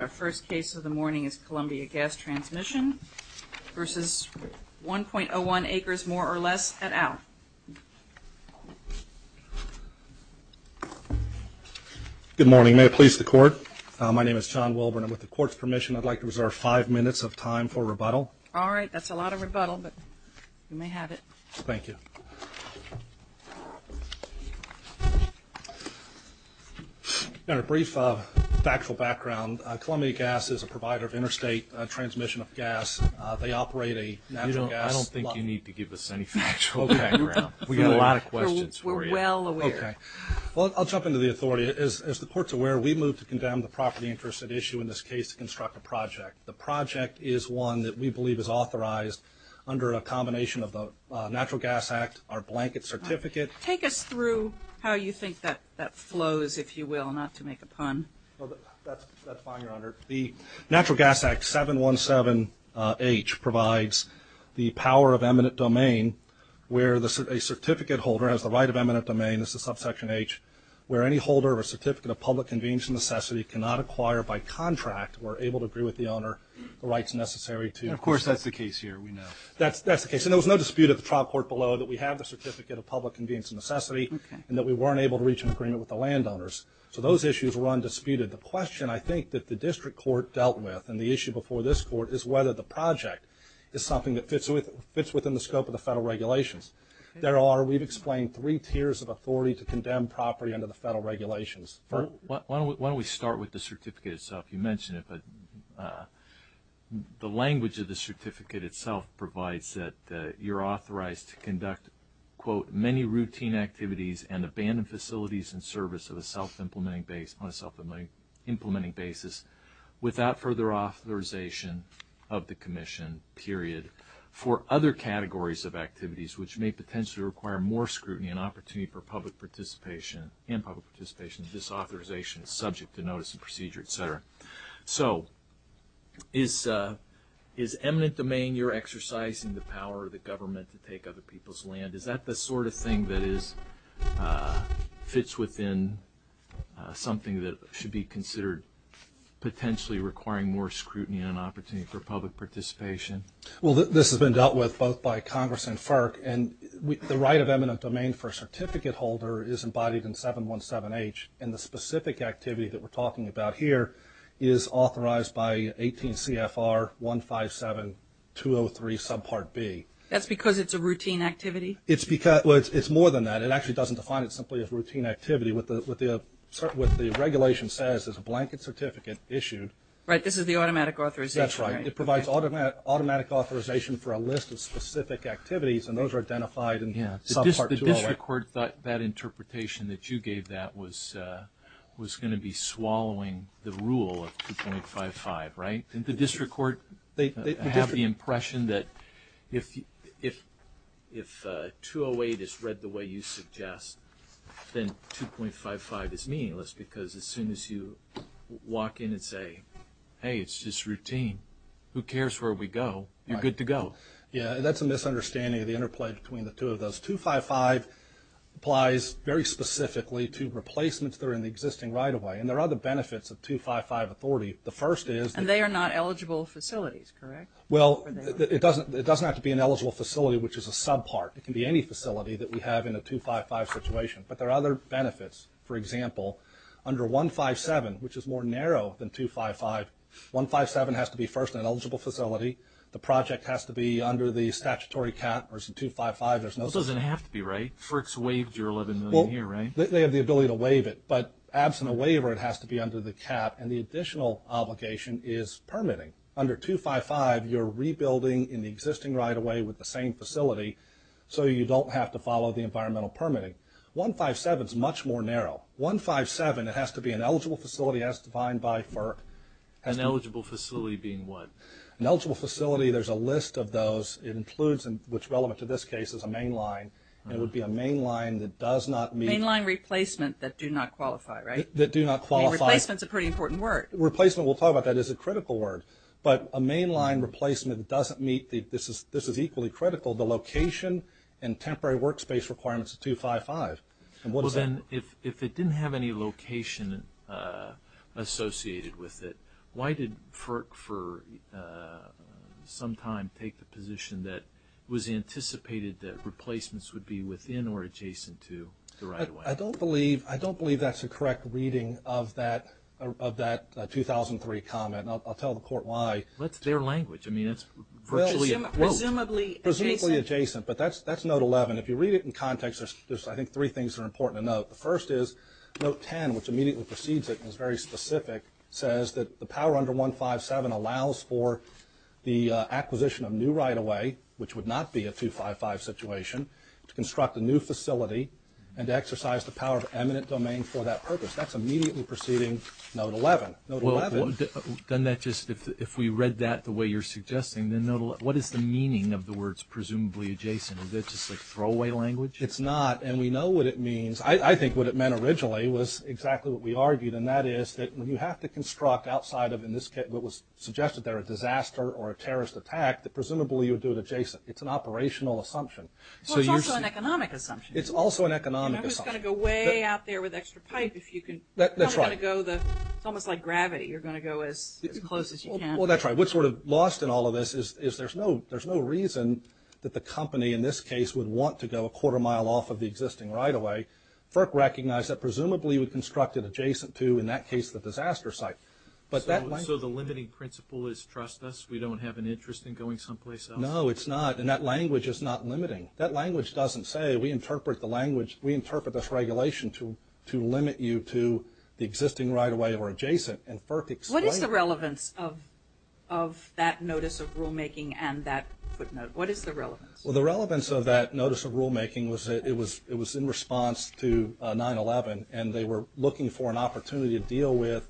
Our first case of the morning is Columbia Gas Transmission v. 1.01 Acres, more or less, at Owl. Good morning. May it please the Court? My name is John Wilburn. With the Court's permission, I'd like to reserve five minutes of time for rebuttal. All right. That's a lot of rebuttal, but you may have it. Thank you. A brief factual background. Columbia Gas is a provider of interstate transmission of gas. They operate a natural gas... I don't think you need to give us any factual background. We've got a lot of questions for you. We're well aware. Okay. Well, I'll jump into the authority. As the Court's aware, we moved to condemn the property interest at issue in this case to construct a project. The project is one that we believe is authorized under a combination of the Natural Gas Act, our blanket certificate... Take us through how you think that flows, if you will, not to make a pun. That's fine, Your Honor. The Natural Gas Act 717H provides the power of eminent domain where a certificate holder has the right of eminent domain. This is subsection H. Where any holder of a certificate of public convenience and necessity cannot acquire by contract or able to agree with the owner the rights necessary to... And, of course, that's the case here, we know. That's the case. And there was no dispute at the trial court below that we have the certificate of public convenience and necessity... Okay. ...and that we weren't able to reach an agreement with the landowners. So those issues were undisputed. The question, I think, that the district court dealt with and the issue before this court is whether the project is something that fits within the scope of the federal regulations. There are, we've explained, three tiers of authority to condemn property under the federal regulations. Why don't we start with the certificate itself? You mentioned it, but the language of the certificate itself provides that you're authorized to conduct, quote, many routine activities and abandoned facilities in service of a self-implementing basis without further authorization of the commission, period, for other categories of activities which may potentially require more scrutiny and opportunity for public participation and public participation disauthorization subject to notice and procedure, et cetera. So is eminent domain you're exercising the power of the government to take other people's land? Is that the sort of thing that fits within something that should be considered potentially requiring more scrutiny and opportunity for public participation? Well, this has been dealt with both by Congress and FERC, and the right of eminent domain for a certificate holder is embodied in 717H, and the specific activity that we're talking about here is authorized by 18 CFR 157203 subpart B. That's because it's a routine activity? It's more than that. It actually doesn't define it simply as routine activity. What the regulation says is a blanket certificate issued. Right, this is the automatic authorization. That's right. It provides automatic authorization for a list of specific activities, and those are identified in subpart 208. The district court thought that interpretation that you gave that was going to be swallowing the rule of 2.55, right? Didn't the district court have the impression that if 208 is read the way you suggest, then 2.55 is meaningless, because as soon as you walk in and say, hey, it's just routine, who cares where we go? You're good to go. Right. Yeah, that's a misunderstanding of the interplay between the two of those. 2.55 applies very specifically to replacements that are in the existing right-of-way, and there are other benefits of 2.55 authority. The first is that… And they are not eligible facilities, correct? Well, it doesn't have to be an eligible facility, which is a subpart. It can be any facility that we have in a 2.55 situation. But there are other benefits. For example, under 1.57, which is more narrow than 2.55, 1.57 has to be first an eligible facility. The project has to be under the statutory cap, or it's a 2.55. It doesn't have to be, right? FERC's waived your $11 million here, right? They have the ability to waive it, but absent a waiver, it has to be under the cap, and the additional obligation is permitting. Under 2.55, you're rebuilding in the existing right-of-way with the same facility, so you don't have to follow the environmental permitting. 1.57 is much more narrow. 1.57, it has to be an eligible facility as defined by FERC. An eligible facility being what? An eligible facility, there's a list of those. It includes, which is relevant to this case, is a mainline. It would be a mainline that does not meet… Mainline replacement that do not qualify, right? That do not qualify. Replacement is a pretty important word. Replacement, we'll talk about that, is a critical word. But a mainline replacement that doesn't meet, this is equally critical, the location and temporary workspace requirements of 2.55. Well, then, if it didn't have any location associated with it, why did FERC for some time take the position that it was anticipated that replacements would be within or adjacent to the right-of-way? I don't believe that's a correct reading of that 2003 comment, and I'll tell the court why. That's their language. I mean, it's virtually a quote. Presumably adjacent. Presumably adjacent, but that's Note 11. If you read it in context, there's, I think, three things that are important to note. The first is Note 10, which immediately precedes it and is very specific, says that the power under 157 allows for the acquisition of new right-of-way, which would not be a 2.55 situation, to construct a new facility and to exercise the power of eminent domain for that purpose. That's immediately preceding Note 11. Doesn't that just, if we read that the way you're suggesting, then what is the meaning of the words presumably adjacent? Is that just like throwaway language? It's not, and we know what it means. I think what it meant originally was exactly what we argued, and that is that when you have to construct outside of, in this case, what was suggested there, a disaster or a terrorist attack, that presumably you would do it adjacent. It's an operational assumption. Well, it's also an economic assumption. It's also an economic assumption. It's almost like gravity. You're going to go as close as you can. Well, that's right. What's sort of lost in all of this is there's no reason that the company, in this case, would want to go a quarter mile off of the existing right-of-way. FERC recognized that presumably you would construct it adjacent to, in that case, the disaster site. So the limiting principle is trust us? We don't have an interest in going someplace else? No, it's not, and that language is not limiting. That language doesn't say we interpret the language, we interpret this regulation to limit you to the existing right-of-way or adjacent, and FERC explained that. What is the relevance of that notice of rulemaking and that footnote? What is the relevance? Well, the relevance of that notice of rulemaking was it was in response to 9-11, and they were looking for an opportunity to deal with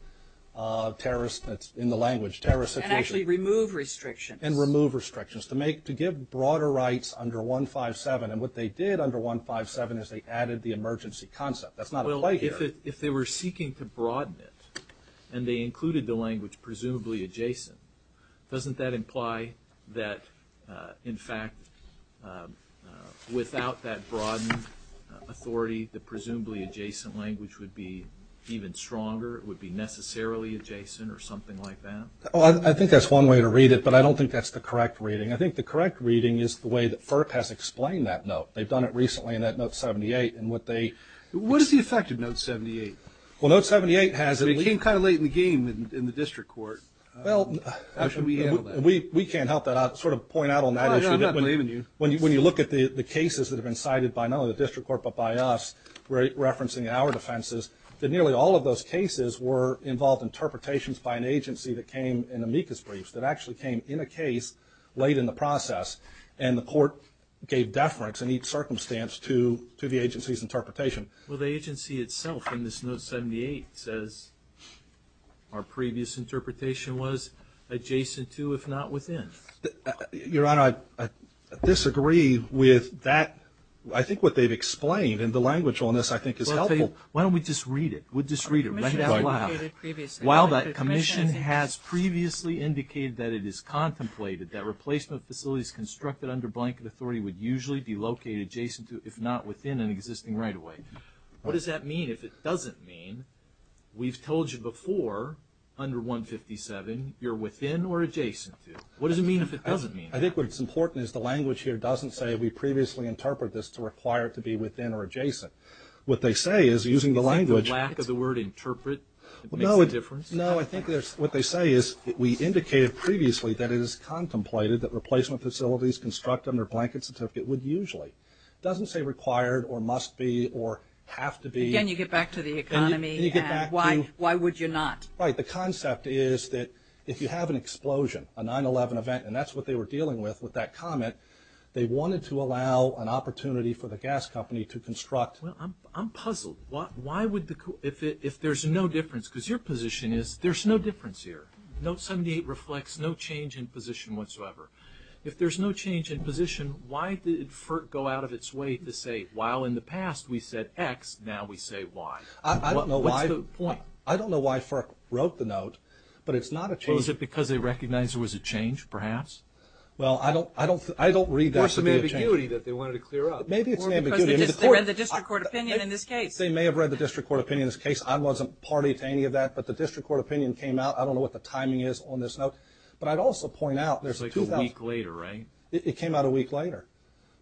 terrorists in the language, terrorist situation. And actually remove restrictions. And remove restrictions. To give broader rights under 157. And what they did under 157 is they added the emergency concept. That's not a play here. Well, if they were seeking to broaden it, and they included the language presumably adjacent, doesn't that imply that, in fact, without that broadened authority, the presumably adjacent language would be even stronger? It would be necessarily adjacent or something like that? Well, I think that's one way to read it, but I don't think that's the correct reading. I think the correct reading is the way that FERC has explained that note. They've done it recently in that note 78. What is the effect of note 78? Well, note 78 has it. It came kind of late in the game in the district court. How should we handle that? We can't help that. I'll sort of point out on that issue. No, no, I'm not believing you. When you look at the cases that have been cited by none of the district court but by us referencing our defenses, that nearly all of those cases were involved interpretations by an agency that came in amicus briefs, that actually came in a case late in the process, and the court gave deference in each circumstance to the agency's interpretation. Well, the agency itself in this note 78 says our previous interpretation was adjacent to if not within. Your Honor, I disagree with that. I think what they've explained, and the language on this I think is helpful. Why don't we just read it? We'll just read it. Read it out loud. While the commission has previously indicated that it is contemplated that replacement facilities constructed under blanket authority would usually be located adjacent to if not within an existing right-of-way. What does that mean? If it doesn't mean we've told you before under 157 you're within or adjacent to. What does it mean if it doesn't mean that? I think what's important is the language here doesn't say we previously interpreted this to require it to be within or adjacent. What they say is using the language. Do you think the lack of the word interpret makes a difference? No, I think what they say is we indicated previously that it is contemplated that replacement facilities constructed under blanket certificate would usually. It doesn't say required or must be or have to be. Again, you get back to the economy and why would you not? Right. The concept is that if you have an explosion, a 9-11 event, and that's what they were dealing with with that comment, they wanted to allow an opportunity for the gas company to construct. Well, I'm puzzled. Why would the, if there's no difference, because your position is there's no difference here. Note 78 reflects no change in position whatsoever. If there's no change in position, why did FERC go out of its way to say while in the past we said X, now we say Y? I don't know why. What's the point? I don't know why FERC wrote the note, but it's not a change. Was it because they recognized there was a change perhaps? Well, I don't read that to be a change. Or it's an ambiguity that they wanted to clear up. Maybe it's an ambiguity. Because they read the district court opinion in this case. They may have read the district court opinion in this case. I wasn't party to any of that, but the district court opinion came out. I don't know what the timing is on this note. But I'd also point out there's two things. It's like a week later, right? It came out a week later.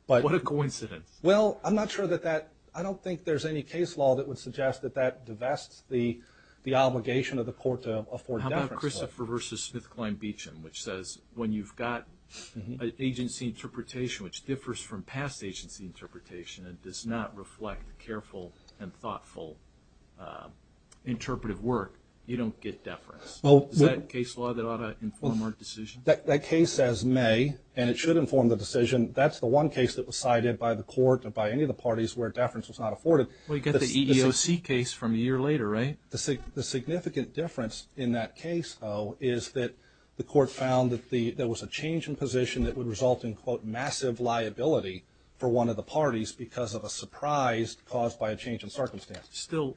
What a coincidence. Well, I'm not sure that that, I don't think there's any case law that would suggest that that divests the obligation of the court to afford that. How about Christopher v. Smithkline-Beacham, which says when you've got agency interpretation which differs from past agency interpretation and does not reflect careful and thoughtful interpretive work, you don't get deference. Is that a case law that ought to inform our decision? That case says may, and it should inform the decision. That's the one case that was cited by the court or by any of the parties where deference was not afforded. Well, you get the EEOC case from a year later, right? The significant difference in that case, though, is that the court found that there was a change in position that would result in, quote, massive liability for one of the parties because of a surprise caused by a change in circumstance. Still,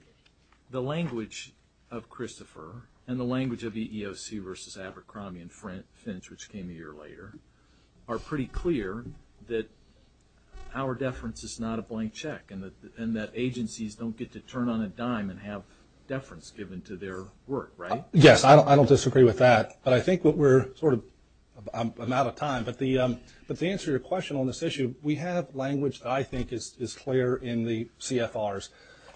the language of Christopher and the language of EEOC v. Abercrombie and Finch, which came a year later, are pretty clear that our deference is not a blank check and that agencies don't get to turn on a dime and have deference given to their work, right? Yes, I don't disagree with that, but I think we're sort of out of time. But to answer your question on this issue, we have language that I think is clear in the CFRs.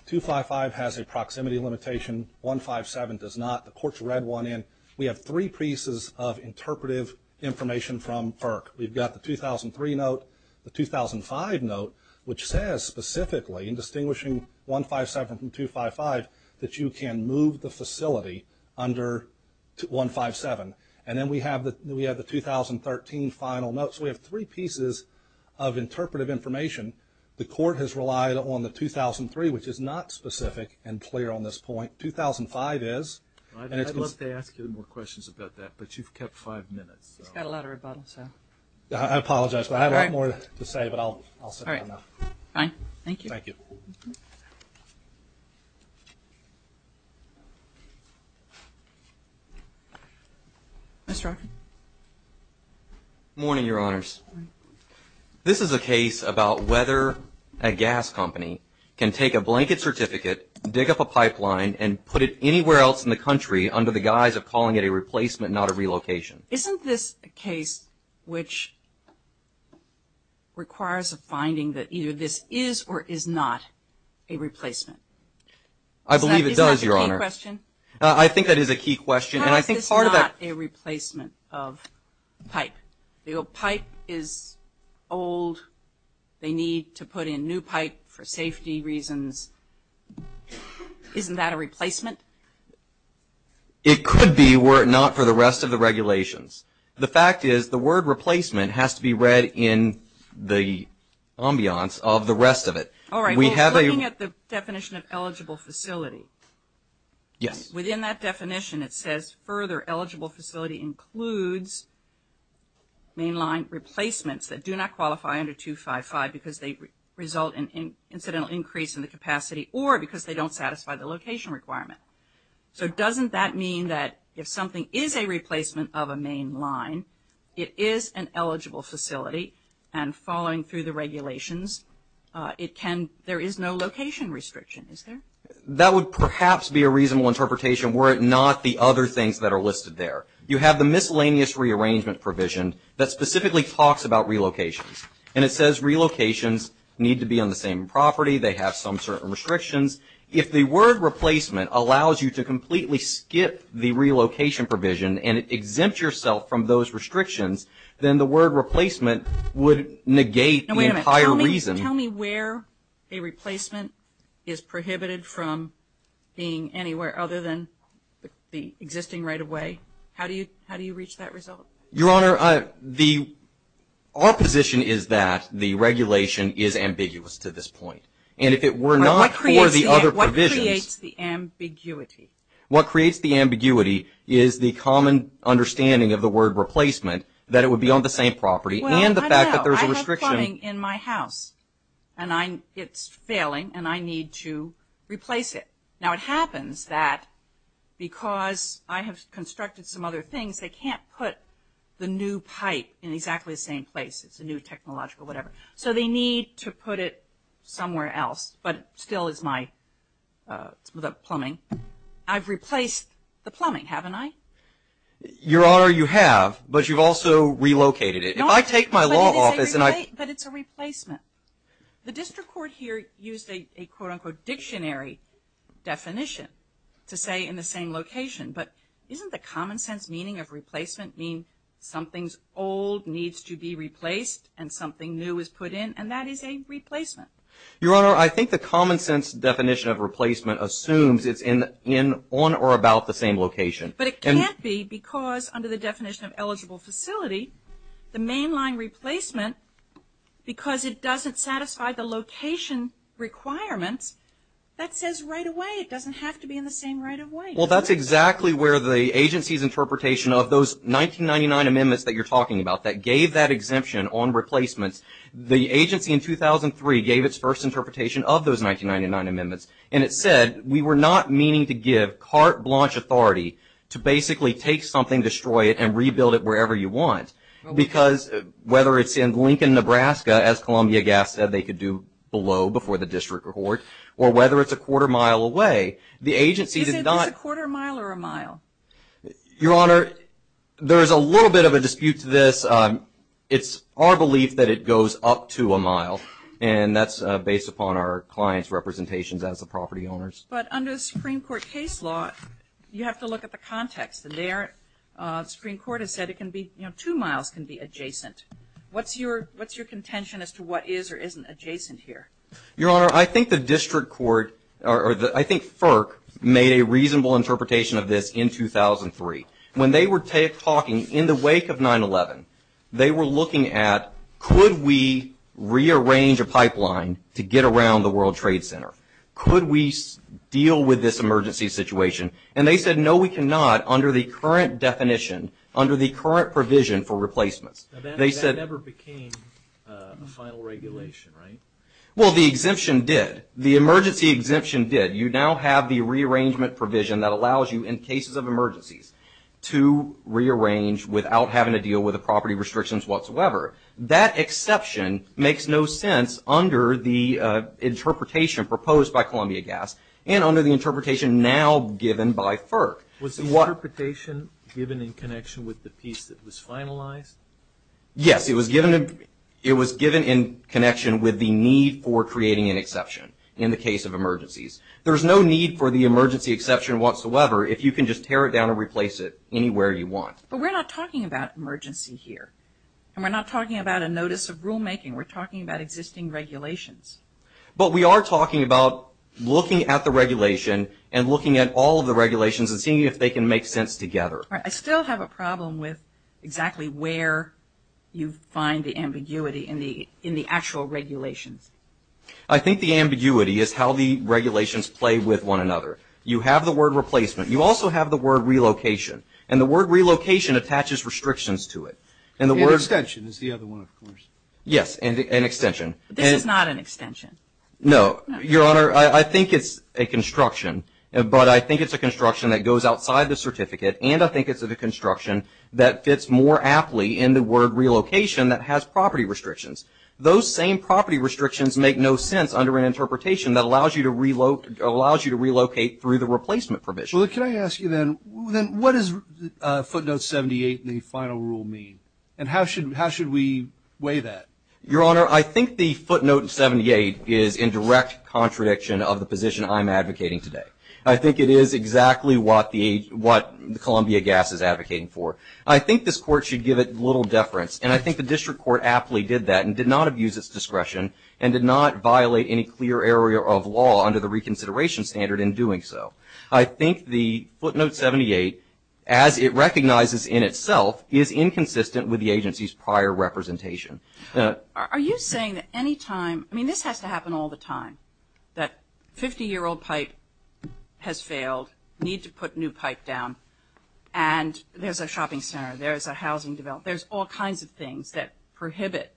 255 has a proximity limitation. 157 does not. The court's read one in. We have three pieces of interpretive information from FERC. We've got the 2003 note, the 2005 note, which says specifically in distinguishing 157 from 255 that you can move the facility under 157. And then we have the 2013 final note. So we have three pieces of interpretive information. The court has relied on the 2003, which is not specific and clear on this point. 2005 is. I'd love to ask you more questions about that, but you've kept five minutes. He's got a lot of rebuttal, so. I apologize, but I have a lot more to say, but I'll sit down now. Fine. Thank you. Thank you. Mr. Arkin. Good morning, Your Honors. This is a case about whether a gas company can take a blanket certificate, dig up a pipeline, and put it anywhere else in the country under the guise of calling it a replacement, not a relocation. Isn't this a case which requires a finding that either this is or is not a replacement? I believe it does, Your Honor. Is that the key question? I think that is a key question, and I think part of that. How is this not a replacement of pipe? The old pipe is old. They need to put in new pipe for safety reasons. Isn't that a replacement? It could be, were it not for the rest of the regulations. The fact is the word replacement has to be read in the ambiance of the rest of it. All right. Looking at the definition of eligible facility. Yes. Within that definition it says further eligible facility includes mainline replacements that do not qualify under 255 because they result in incidental increase in the capacity or because they don't satisfy the location requirement. So doesn't that mean that if something is a replacement of a mainline, it is an eligible facility, and following through the regulations, there is no location restriction, is there? That would perhaps be a reasonable interpretation were it not the other things that are listed there. You have the miscellaneous rearrangement provision that specifically talks about relocations, and it says relocations need to be on the same property. They have some certain restrictions. If the word replacement allows you to completely skip the relocation provision and it exempts yourself from those restrictions, then the word replacement would negate the entire reason. Tell me where a replacement is prohibited from being anywhere other than the existing right-of-way. How do you reach that result? Your Honor, our position is that the regulation is ambiguous to this point. And if it were not for the other provisions. What creates the ambiguity? What creates the ambiguity is the common understanding of the word replacement, that it would be on the same property, and the fact that there's a restriction. Well, I know. I have plumbing in my house, and it's failing, and I need to replace it. Now, it happens that because I have constructed some other things, they can't put the new pipe in exactly the same place. It's a new technological whatever. So they need to put it somewhere else, but it still is my plumbing. I've replaced the plumbing, haven't I? Your Honor, you have, but you've also relocated it. If I take my law office and I... But it's a replacement. The district court here used a quote-unquote dictionary definition to say in the same location, but isn't the common sense meaning of replacement mean something's old needs to be replaced and something new is put in, and that is a replacement? Your Honor, I think the common sense definition of replacement assumes it's on or about the same location. But it can't be because under the definition of eligible facility, the mainline replacement, because it doesn't satisfy the location requirements, that says right away it doesn't have to be in the same right of way. Well, that's exactly where the agency's interpretation of those 1999 amendments that you're talking about that gave that exemption on replacements, the agency in 2003 gave its first interpretation of those 1999 amendments, and it said we were not meaning to give carte blanche authority to basically take something, destroy it, and rebuild it wherever you want. Because whether it's in Lincoln, Nebraska, as Columbia Gas said they could do below before the district court, or whether it's a quarter mile away, the agency did not... Is it a quarter mile or a mile? Your Honor, there's a little bit of a dispute to this. It's our belief that it goes up to a mile, and that's based upon our client's representations as the property owners. But under the Supreme Court case law, you have to look at the context. The Supreme Court has said two miles can be adjacent. What's your contention as to what is or isn't adjacent here? Your Honor, I think the district court, or I think FERC, made a reasonable interpretation of this in 2003. When they were talking in the wake of 9-11, they were looking at, could we rearrange a pipeline to get around the World Trade Center? Could we deal with this emergency situation? And they said, no, we cannot under the current definition, under the current provision for replacements. That never became a final regulation, right? Well, the exemption did. The emergency exemption did. You now have the rearrangement provision that allows you, in cases of emergencies, to rearrange without having to deal with the property restrictions whatsoever. That exception makes no sense under the interpretation proposed by Columbia Gas and under the interpretation now given by FERC. Was the interpretation given in connection with the piece that was finalized? Yes, it was given in connection with the need for creating an exception in the case of emergencies. There's no need for the emergency exception whatsoever if you can just tear it down and replace it anywhere you want. But we're not talking about emergency here. And we're not talking about a notice of rulemaking. We're talking about existing regulations. But we are talking about looking at the regulation and looking at all of the regulations and seeing if they can make sense together. All right. I still have a problem with exactly where you find the ambiguity in the actual regulations. I think the ambiguity is how the regulations play with one another. You have the word replacement. You also have the word relocation. And the word relocation attaches restrictions to it. An extension is the other one, of course. Yes, an extension. This is not an extension. No. Your Honor, I think it's a construction. But I think it's a construction that goes outside the certificate. And I think it's a construction that fits more aptly in the word relocation that has property restrictions. Those same property restrictions make no sense under an interpretation that allows you to relocate through the replacement provision. Well, can I ask you then, what does footnote 78 in the final rule mean? And how should we weigh that? Your Honor, I think the footnote 78 is in direct contradiction of the position I'm advocating today. I think it is exactly what the Columbia Gas is advocating for. I think this court should give it little deference. And I think the district court aptly did that and did not abuse its discretion and did not violate any clear area of law under the reconsideration standard in doing so. I think the footnote 78, as it recognizes in itself, is inconsistent with the agency's prior representation. Are you saying that any time, I mean, this has to happen all the time, that 50-year-old pipe has failed, need to put new pipe down, and there's a shopping center, there's a housing development, there's all kinds of things that prohibit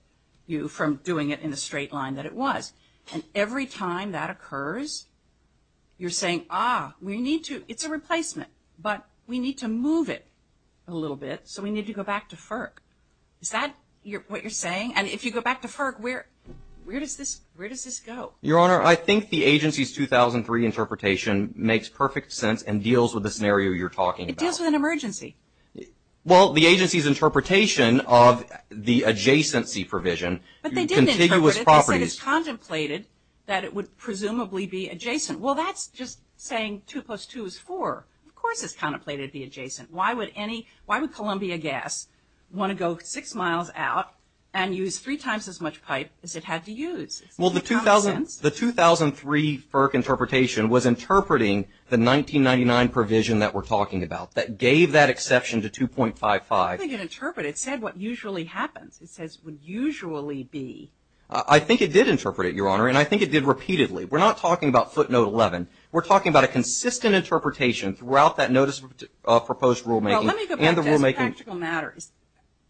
you from doing it in the straight line that it was. And every time that occurs, you're saying, ah, we need to, it's a replacement, but we need to move it a little bit, so we need to go back to FERC. Is that what you're saying? And if you go back to FERC, where does this go? Your Honor, I think the agency's 2003 interpretation makes perfect sense and deals with the scenario you're talking about. It deals with an emergency. Well, the agency's interpretation of the adjacency provision. But they didn't interpret it. They said it's contemplated that it would presumably be adjacent. Well, that's just saying 2 plus 2 is 4. Of course it's contemplated to be adjacent. Why would Columbia Gas want to go six miles out and use three times as much pipe as it had to use? Well, the 2003 FERC interpretation was interpreting the 1999 provision that we're talking about that gave that exception to 2.55. I don't think it interpreted it. It said what usually happens. It says what usually be. I think it did interpret it, Your Honor, and I think it did repeatedly. We're not talking about footnote 11. We're talking about a consistent interpretation throughout that notice of proposed rulemaking. Well, let me go back to this practical matter.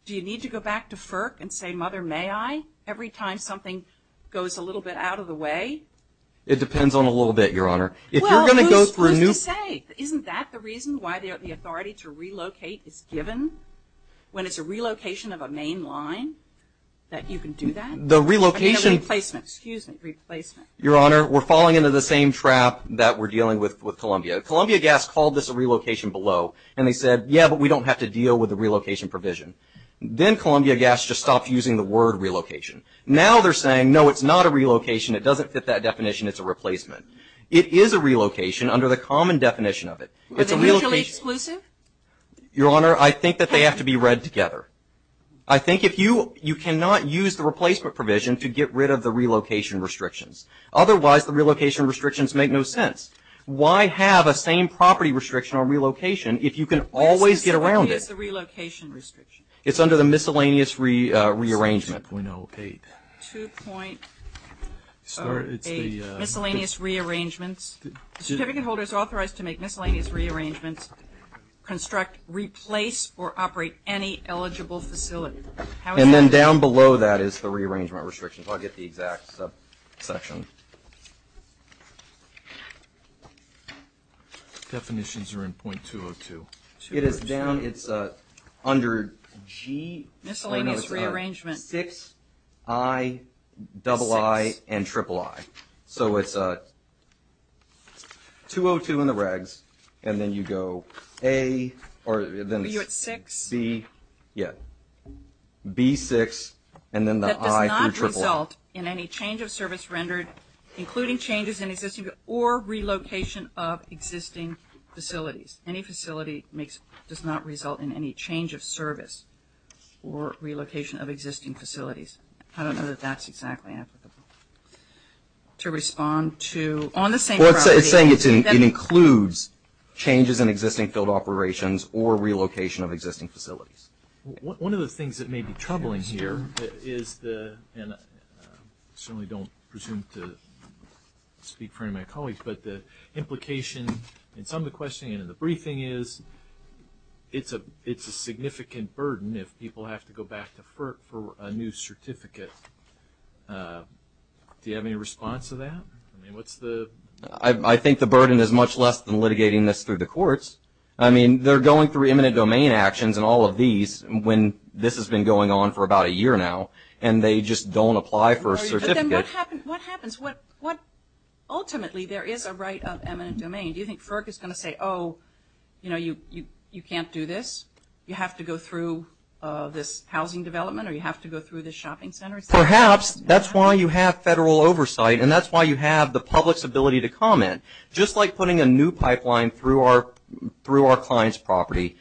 Do you need to go back to FERC and say, Mother, may I, every time something goes a little bit out of the way? It depends on a little bit, Your Honor. Well, who's to say? Isn't that the reason why the authority to relocate is given? When it's a relocation of a main line that you can do that? I mean a replacement. Excuse me. Replacement. Your Honor, we're falling into the same trap that we're dealing with with Columbia. Columbia Gas called this a relocation below, and they said, yeah, but we don't have to deal with the relocation provision. Then Columbia Gas just stopped using the word relocation. Now they're saying, no, it's not a relocation. It doesn't fit that definition. It's a replacement. It is a relocation under the common definition of it. Is it mutually exclusive? Your Honor, I think that they have to be read together. I think if you cannot use the replacement provision to get rid of the relocation restrictions. Otherwise, the relocation restrictions make no sense. Why have a same property restriction on relocation if you can always get around it? It's under the miscellaneous rearrangement. 2.08. 2.08, miscellaneous rearrangements. The certificate holder is authorized to make miscellaneous rearrangements, construct, replace, or operate any eligible facility. And then down below that is the rearrangement restrictions. I'll get the exact subsection. Definitions are in .202. It is down. It's under G. Miscellaneous rearrangements. 6, I, double I, and triple I. So it's .202 in the regs. And then you go A. Are you at 6? B, yeah. B, 6, and then the I through triple. That does not result in any change of service rendered, including changes in existing or relocation of existing facilities. Any facility does not result in any change of service or relocation of existing facilities. I don't know that that's exactly applicable. To respond to, on the same priority. Well, it's saying it includes changes in existing field operations or relocation of existing facilities. One of the things that may be troubling here is the, and I certainly don't presume to speak for any of my colleagues, but the implication in some of the questioning and in the briefing is it's a significant burden if people have to go back to FERC for a new certificate. Do you have any response to that? I mean, what's the? I think the burden is much less than litigating this through the courts. I mean, they're going through eminent domain actions and all of these when this has been going on for about a year now, and they just don't apply for a certificate. But then what happens? Ultimately there is a right of eminent domain. Do you think FERC is going to say, oh, you know, you can't do this? You have to go through this housing development or you have to go through this shopping center? Perhaps. That's why you have federal oversight, and that's why you have the public's ability to comment. Just like putting a new pipeline through our client's property,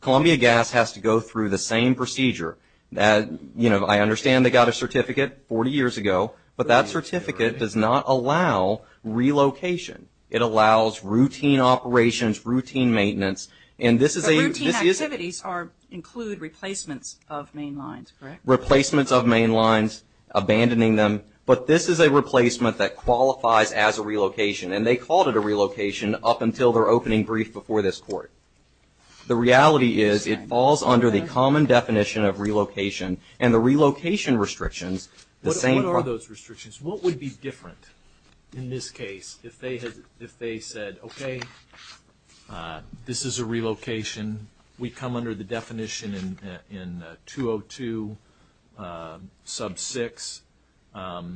Columbia Gas has to go through the same procedure. I understand they got a certificate 40 years ago, but that certificate does not allow relocation. It allows routine operations, routine maintenance. But routine activities include replacements of main lines, correct? Replacements of main lines, abandoning them. But this is a replacement that qualifies as a relocation, and they called it a relocation up until their opening brief before this court. The reality is it falls under the common definition of relocation, and the relocation restrictions, the same. What are those restrictions? What would be different in this case if they said, okay, this is a relocation. We come under the definition in 202 sub 6. How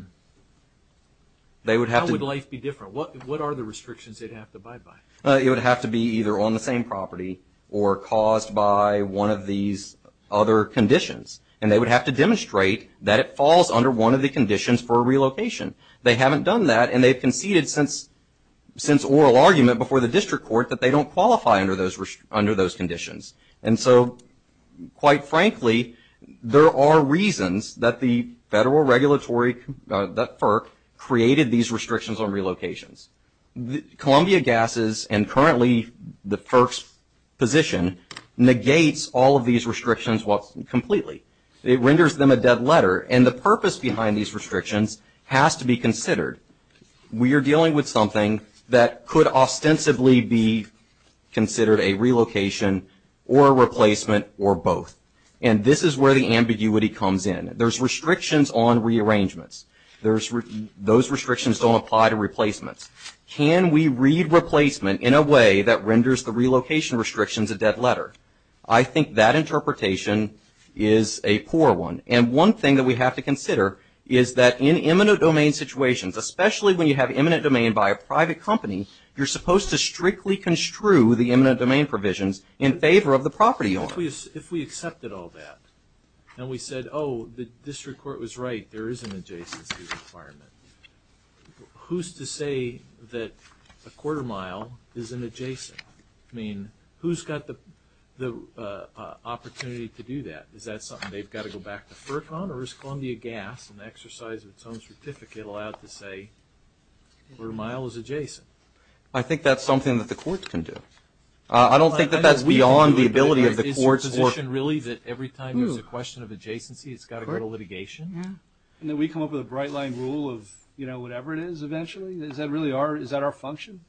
would life be different? What are the restrictions they'd have to abide by? It would have to be either on the same property or caused by one of these other conditions, and they would have to demonstrate that it falls under one of the conditions for a relocation. They haven't done that, and they've conceded since oral argument before the district court that they don't qualify under those conditions. And so, quite frankly, there are reasons that the federal regulatory, that FERC, created these restrictions on relocations. Columbia Gases and currently the FERC's position negates all of these restrictions completely. It renders them a dead letter, and the purpose behind these restrictions has to be considered. We are dealing with something that could ostensibly be considered a relocation or a replacement or both, and this is where the ambiguity comes in. There's restrictions on rearrangements. Those restrictions don't apply to replacements. Can we read replacement in a way that renders the relocation restrictions a dead letter? I think that interpretation is a poor one, and one thing that we have to consider is that in eminent domain situations, especially when you have eminent domain by a private company, you're supposed to strictly construe the eminent domain provisions in favor of the property owner. If we accepted all that and we said, oh, the district court was right, there is an adjacency requirement, who's to say that a quarter mile is an adjacent? I mean, who's got the opportunity to do that? Is that something they've got to go back to FERC on, or is Columbia Gas, in the exercise of its own certificate, allowed to say a quarter mile is adjacent? I think that's something that the courts can do. I don't think that that's beyond the ability of the courts. Is your position really that every time there's a question of adjacency, it's got to go to litigation? And then we come up with a bright line rule of whatever it is eventually? Is that really our function?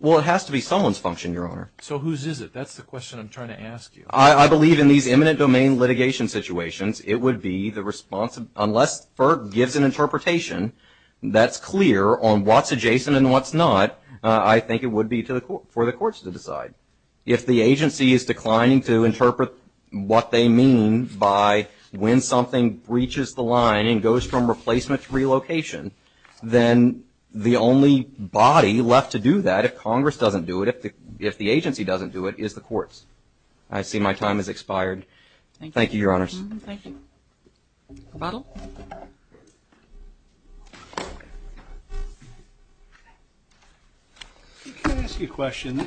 Well, it has to be someone's function, Your Honor. So whose is it? That's the question I'm trying to ask you. I believe in these eminent domain litigation situations, it would be the response, unless FERC gives an interpretation that's clear on what's adjacent and what's not, I think it would be for the courts to decide. If the agency is declining to interpret what they mean by when something breaches the line and goes from replacement to relocation, then the only body left to do that, if Congress doesn't do it, if the agency doesn't do it, is the courts. I see my time has expired. Thank you, Your Honors. Thank you. A bottle? Can I ask you a question?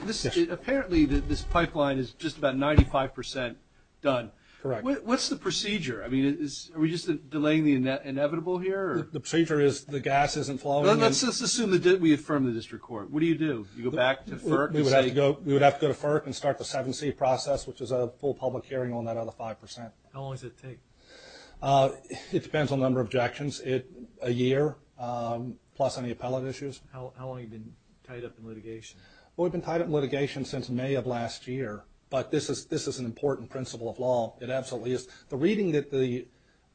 Apparently, this pipeline is just about 95% done. Correct. What's the procedure? I mean, are we just delaying the inevitable here? The procedure is the gas isn't flowing. Let's assume that we affirm the district court. What do you do? You go back to FERC? We would have to go to FERC and start the 7C process, which is a full public hearing on that other 5%. How long does it take? It depends on the number of objections. A year, plus any appellate issues. How long have you been tied up in litigation? Well, we've been tied up in litigation since May of last year, but this is an important principle of law. It absolutely is. The reading that the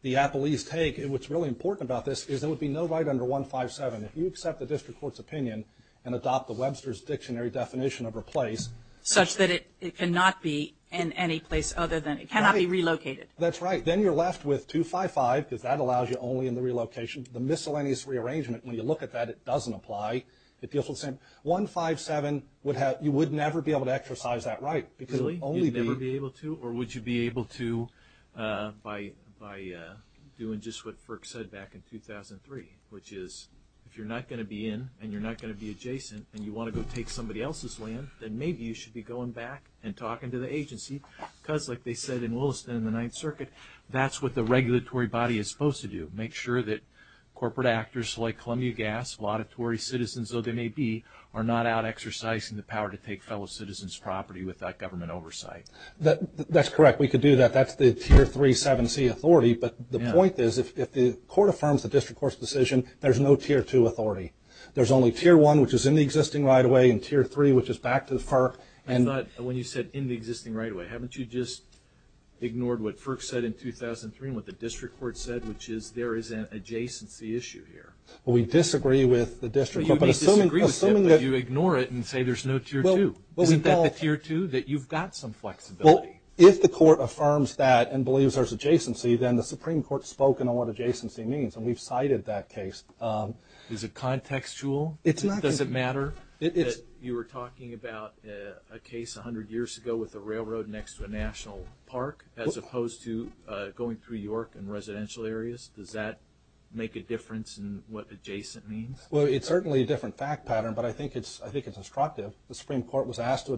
appellees take, and what's really important about this, is there would be no right under 157. If you accept the district court's opinion and adopt the Webster's Dictionary definition of replace… Which is that it cannot be in any place other than, it cannot be relocated. That's right. Then you're left with 255, because that allows you only in the relocation. The miscellaneous rearrangement, when you look at that, it doesn't apply. It deals with the same. 157, you would never be able to exercise that right. Really? You'd never be able to? Or would you be able to by doing just what FERC said back in 2003, which is if you're not going to be in and you're not going to be adjacent and you want to go take somebody else's land, then maybe you should be going back and talking to the agency. Because, like they said in Williston in the Ninth Circuit, that's what the regulatory body is supposed to do, make sure that corporate actors like Columbia Gas, laudatory citizens, though they may be, are not out exercising the power to take fellow citizens' property without government oversight. That's correct. We could do that. That's the Tier 3 7C authority. But the point is, if the court affirms the district court's decision, there's no Tier 2 authority. There's only Tier 1, which is in the existing right-of-way, and Tier 3, which is back to the FERC. I thought when you said in the existing right-of-way, haven't you just ignored what FERC said in 2003 and what the district court said, which is there is an adjacency issue here? Well, we disagree with the district court. Well, you may disagree with it, but you ignore it and say there's no Tier 2. Isn't that the Tier 2, that you've got some flexibility? Well, if the court affirms that and believes there's adjacency, then the Supreme Court has spoken on what adjacency means, and we've cited that case. Is it contextual? Does it matter that you were talking about a case 100 years ago with a railroad next to a national park, as opposed to going through York and residential areas? Does that make a difference in what adjacent means? Well, it's certainly a different fact pattern, but I think it's instructive. The Supreme Court was asked to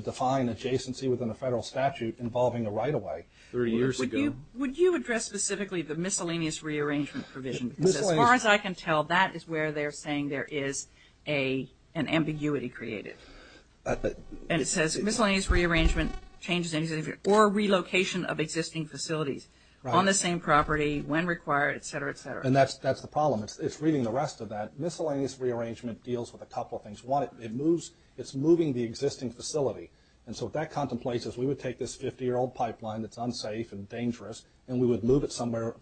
define adjacency within a federal statute involving a right-of-way 30 years ago. Would you address specifically the miscellaneous rearrangement provision? As far as I can tell, that is where they're saying there is an ambiguity created. And it says miscellaneous rearrangement changes anything or relocation of existing facilities on the same property when required, etc., etc. And that's the problem. It's reading the rest of that. Miscellaneous rearrangement deals with a couple of things. One, it's moving the existing facility. And so if that contemplates us, we would take this 50-year-old pipeline that's unsafe and dangerous, and we would move it somewhere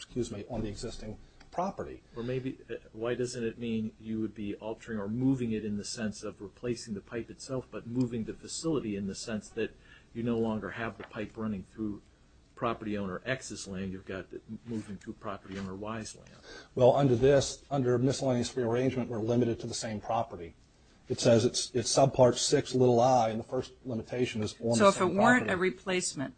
on the existing property. Or maybe, why doesn't it mean you would be altering or moving it in the sense of replacing the pipe itself, but moving the facility in the sense that you no longer have the pipe running through property owner X's land, you've got it moving through property owner Y's land? Well, under this, under miscellaneous rearrangement, we're limited to the same property. It says it's subpart 6, little i, and the first limitation is on the same property. If it weren't a replacement,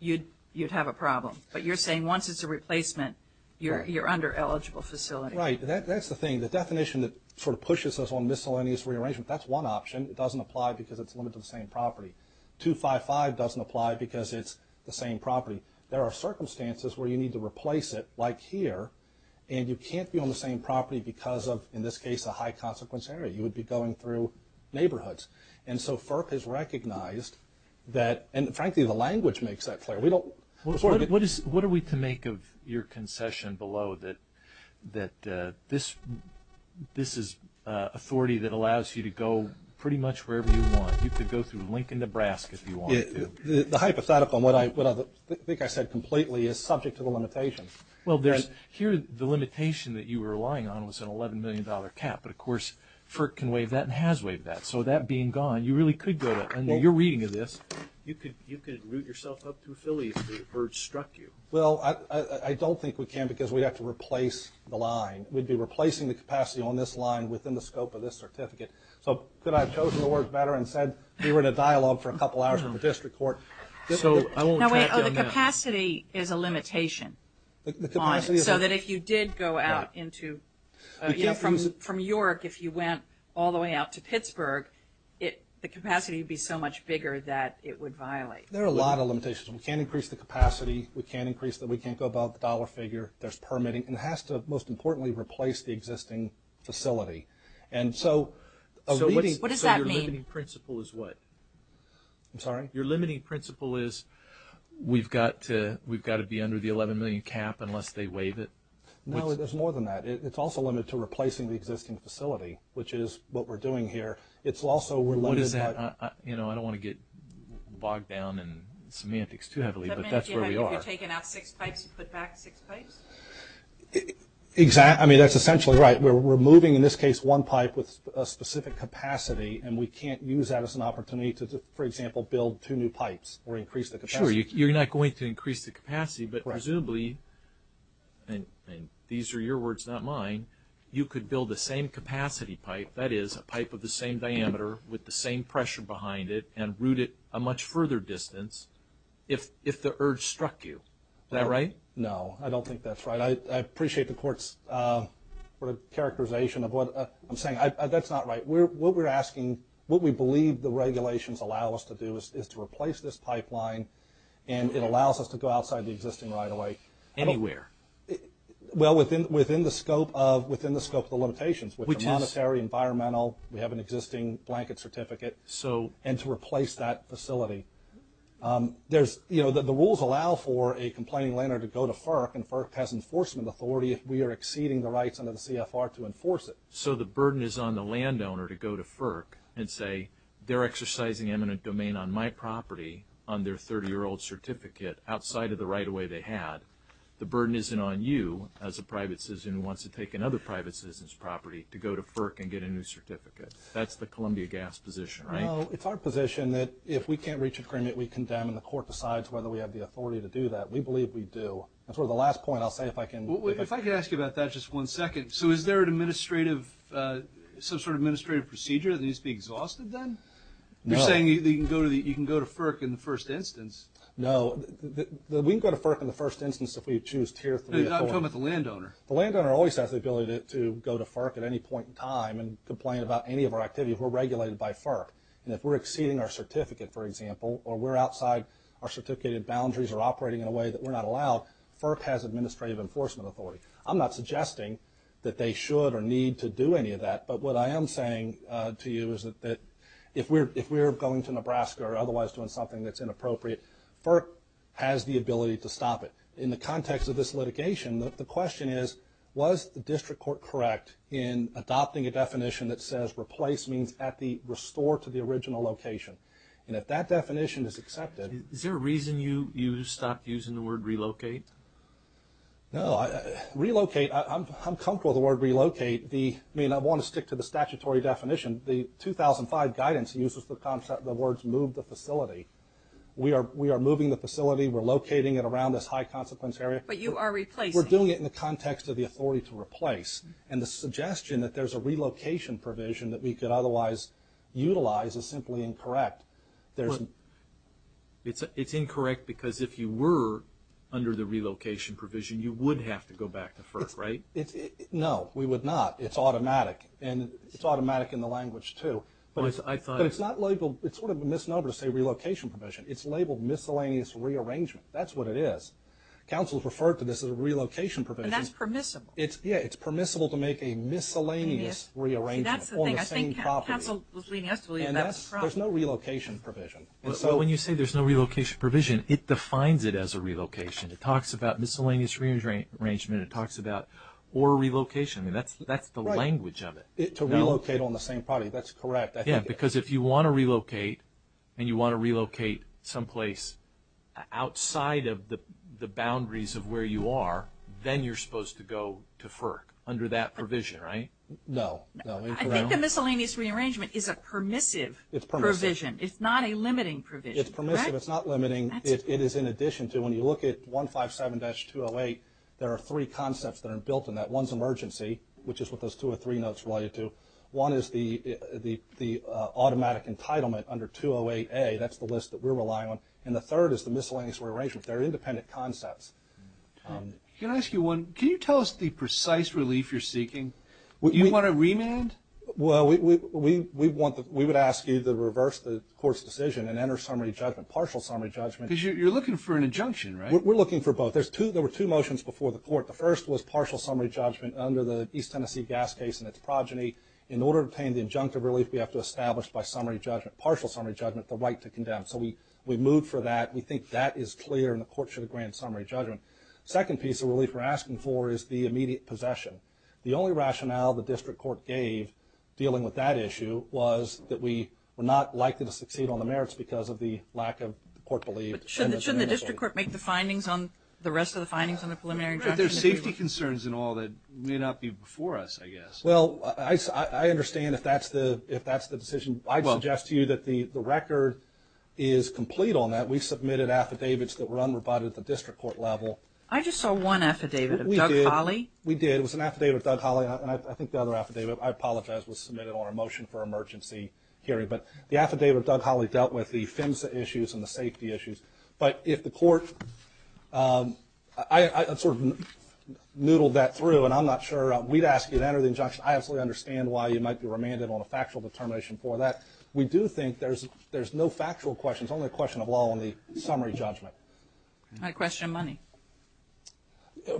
you'd have a problem. But you're saying once it's a replacement, you're under eligible facility. Right. That's the thing. The definition that sort of pushes us on miscellaneous rearrangement, that's one option. It doesn't apply because it's limited to the same property. 255 doesn't apply because it's the same property. There are circumstances where you need to replace it, like here, and you can't be on the same property because of, in this case, a high-consequence area. You would be going through neighborhoods. And so FERC has recognized that, and, frankly, the language makes that clear. What are we to make of your concession below that this is authority that allows you to go pretty much wherever you want? You could go through Lincoln, Nebraska, if you wanted to. The hypothetical, and what I think I said completely, is subject to the limitation. Well, here the limitation that you were relying on was an $11 million cap, but, of course, FERC can waive that and has waived that. So that being gone, you really could go there. And you're reading this. You could route yourself up through Philly if the urge struck you. Well, I don't think we can because we'd have to replace the line. We'd be replacing the capacity on this line within the scope of this certificate. So could I have chosen the words better and said we were in a dialogue for a couple hours in the district court? So I don't want to track you on that. The capacity is a limitation. The capacity is a limitation. So that if you did go out from York, if you went all the way out to Pittsburgh, the capacity would be so much bigger that it would violate. There are a lot of limitations. We can't increase the capacity. We can't increase the dollar figure. There's permitting. And it has to, most importantly, replace the existing facility. What does that mean? Your limiting principle is what? I'm sorry? No, there's more than that. It's also limited to replacing the existing facility, which is what we're doing here. It's also related. What is that? I don't want to get bogged down in semantics too heavily, but that's where we are. If you're taking out six pipes, you put back six pipes? I mean, that's essentially right. We're moving, in this case, one pipe with a specific capacity, and we can't use that as an opportunity to, for example, build two new pipes or increase the capacity. Sure, you're not going to increase the capacity, but presumably, and these are your words, not mine, you could build the same capacity pipe, that is, a pipe of the same diameter with the same pressure behind it and route it a much further distance if the urge struck you. Is that right? No, I don't think that's right. I appreciate the Court's characterization of what I'm saying. That's not right. What we're asking, what we believe the regulations allow us to do, is to replace this pipeline, and it allows us to go outside the existing right-of-way. Anywhere? Well, within the scope of the limitations, which are monetary, environmental, we have an existing blanket certificate, and to replace that facility. The rules allow for a complaining landowner to go to FERC, and FERC has enforcement authority if we are exceeding the rights under the CFR to enforce it. So the burden is on the landowner to go to FERC and say, they're exercising eminent domain on my property on their 30-year-old certificate outside of the right-of-way they had. The burden isn't on you as a private citizen who wants to take another private citizen's property to go to FERC and get a new certificate. That's the Columbia Gas position, right? No, it's our position that if we can't reach agreement, we condemn, and the Court decides whether we have the authority to do that. We believe we do. And for the last point, I'll say if I can. If I could ask you about that just one second. So is there an administrative, some sort of administrative procedure that needs to be exhausted then? You're saying you can go to FERC in the first instance. No. We can go to FERC in the first instance if we choose Tier 3 authority. I'm talking about the landowner. The landowner always has the ability to go to FERC at any point in time and complain about any of our activities. We're regulated by FERC. And if we're exceeding our certificate, for example, or we're outside our certificated boundaries or operating in a way that we're not allowed, FERC has administrative enforcement authority. I'm not suggesting that they should or need to do any of that, but what I am saying to you is that if we're going to Nebraska or otherwise doing something that's inappropriate, FERC has the ability to stop it. In the context of this litigation, the question is, was the district court correct in adopting a definition that says replace means at the restore to the original location? And if that definition is accepted. Is there a reason you stopped using the word relocate? No. Relocate, I'm comfortable with the word relocate. I mean, I want to stick to the statutory definition. The 2005 guidance uses the concept of the words move the facility. We are moving the facility. We're locating it around this high consequence area. But you are replacing. We're doing it in the context of the authority to replace. And the suggestion that there's a relocation provision that we could otherwise utilize is simply incorrect. It's incorrect because if you were under the relocation provision, you would have to go back to FERC, right? No, we would not. It's automatic. And it's automatic in the language, too. But it's not labeled. It's sort of a misnomer to say relocation provision. It's labeled miscellaneous rearrangement. That's what it is. Council has referred to this as a relocation provision. But that's permissible. Yeah, it's permissible to make a miscellaneous rearrangement. See, that's the thing. I think Council was leading us to believe that's wrong. There's no relocation provision. When you say there's no relocation provision, it defines it as a relocation. It talks about miscellaneous rearrangement. It talks about or relocation. That's the language of it. To relocate on the same property, that's correct. Yeah, because if you want to relocate and you want to relocate someplace outside of the boundaries of where you are, then you're supposed to go to FERC under that provision, right? No. I think the miscellaneous rearrangement is a permissive provision. It's permissive. It's not a limiting provision. It's permissive. It's not limiting. It is in addition to when you look at 157-208, there are three concepts that are built in that. One's emergency, which is what those two or three notes relate to. One is the automatic entitlement under 208-A. That's the list that we're relying on. And the third is the miscellaneous rearrangement. They're independent concepts. Can I ask you one? Can you tell us the precise relief you're seeking? Do you want to remand? Well, we would ask you to reverse the court's decision and enter summary judgment, partial summary judgment. Because you're looking for an injunction, right? We're looking for both. There were two motions before the court. The first was partial summary judgment under the East Tennessee gas case and its progeny. In order to obtain the injunctive relief, we have to establish by partial summary judgment the right to condemn. So we moved for that. We think that is clear, and the court should grant summary judgment. The second piece of relief we're asking for is the immediate possession. The only rationale the district court gave dealing with that issue was that we were not likely to succeed on the merits because of the lack of court belief. But shouldn't the district court make the findings on the rest of the findings on the preliminary injunction? There's safety concerns and all that may not be before us, I guess. Well, I understand if that's the decision. I'd suggest to you that the record is complete on that. We submitted affidavits that were unrebutted at the district court level. I just saw one affidavit of Doug Hawley. We did. It was an affidavit of Doug Hawley, and I think the other affidavit, I apologize, was submitted on a motion for emergency hearing. But the affidavit of Doug Hawley dealt with the PHMSA issues and the safety issues. But if the court – I sort of noodled that through, and I'm not sure we'd ask you to enter the injunction. I absolutely understand why you might be remanded on a factual determination for that. We do think there's no factual questions, only a question of law on the summary judgment. I question money.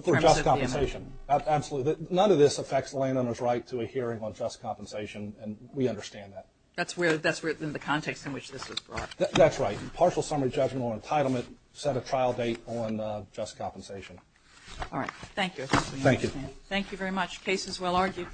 For just compensation. Absolutely. None of this affects the landowner's right to a hearing on just compensation, and we understand that. That's within the context in which this was brought. That's right. Partial summary judgment on entitlement, set a trial date on just compensation. All right. Thank you. Thank you. Thank you very much. Case is well argued.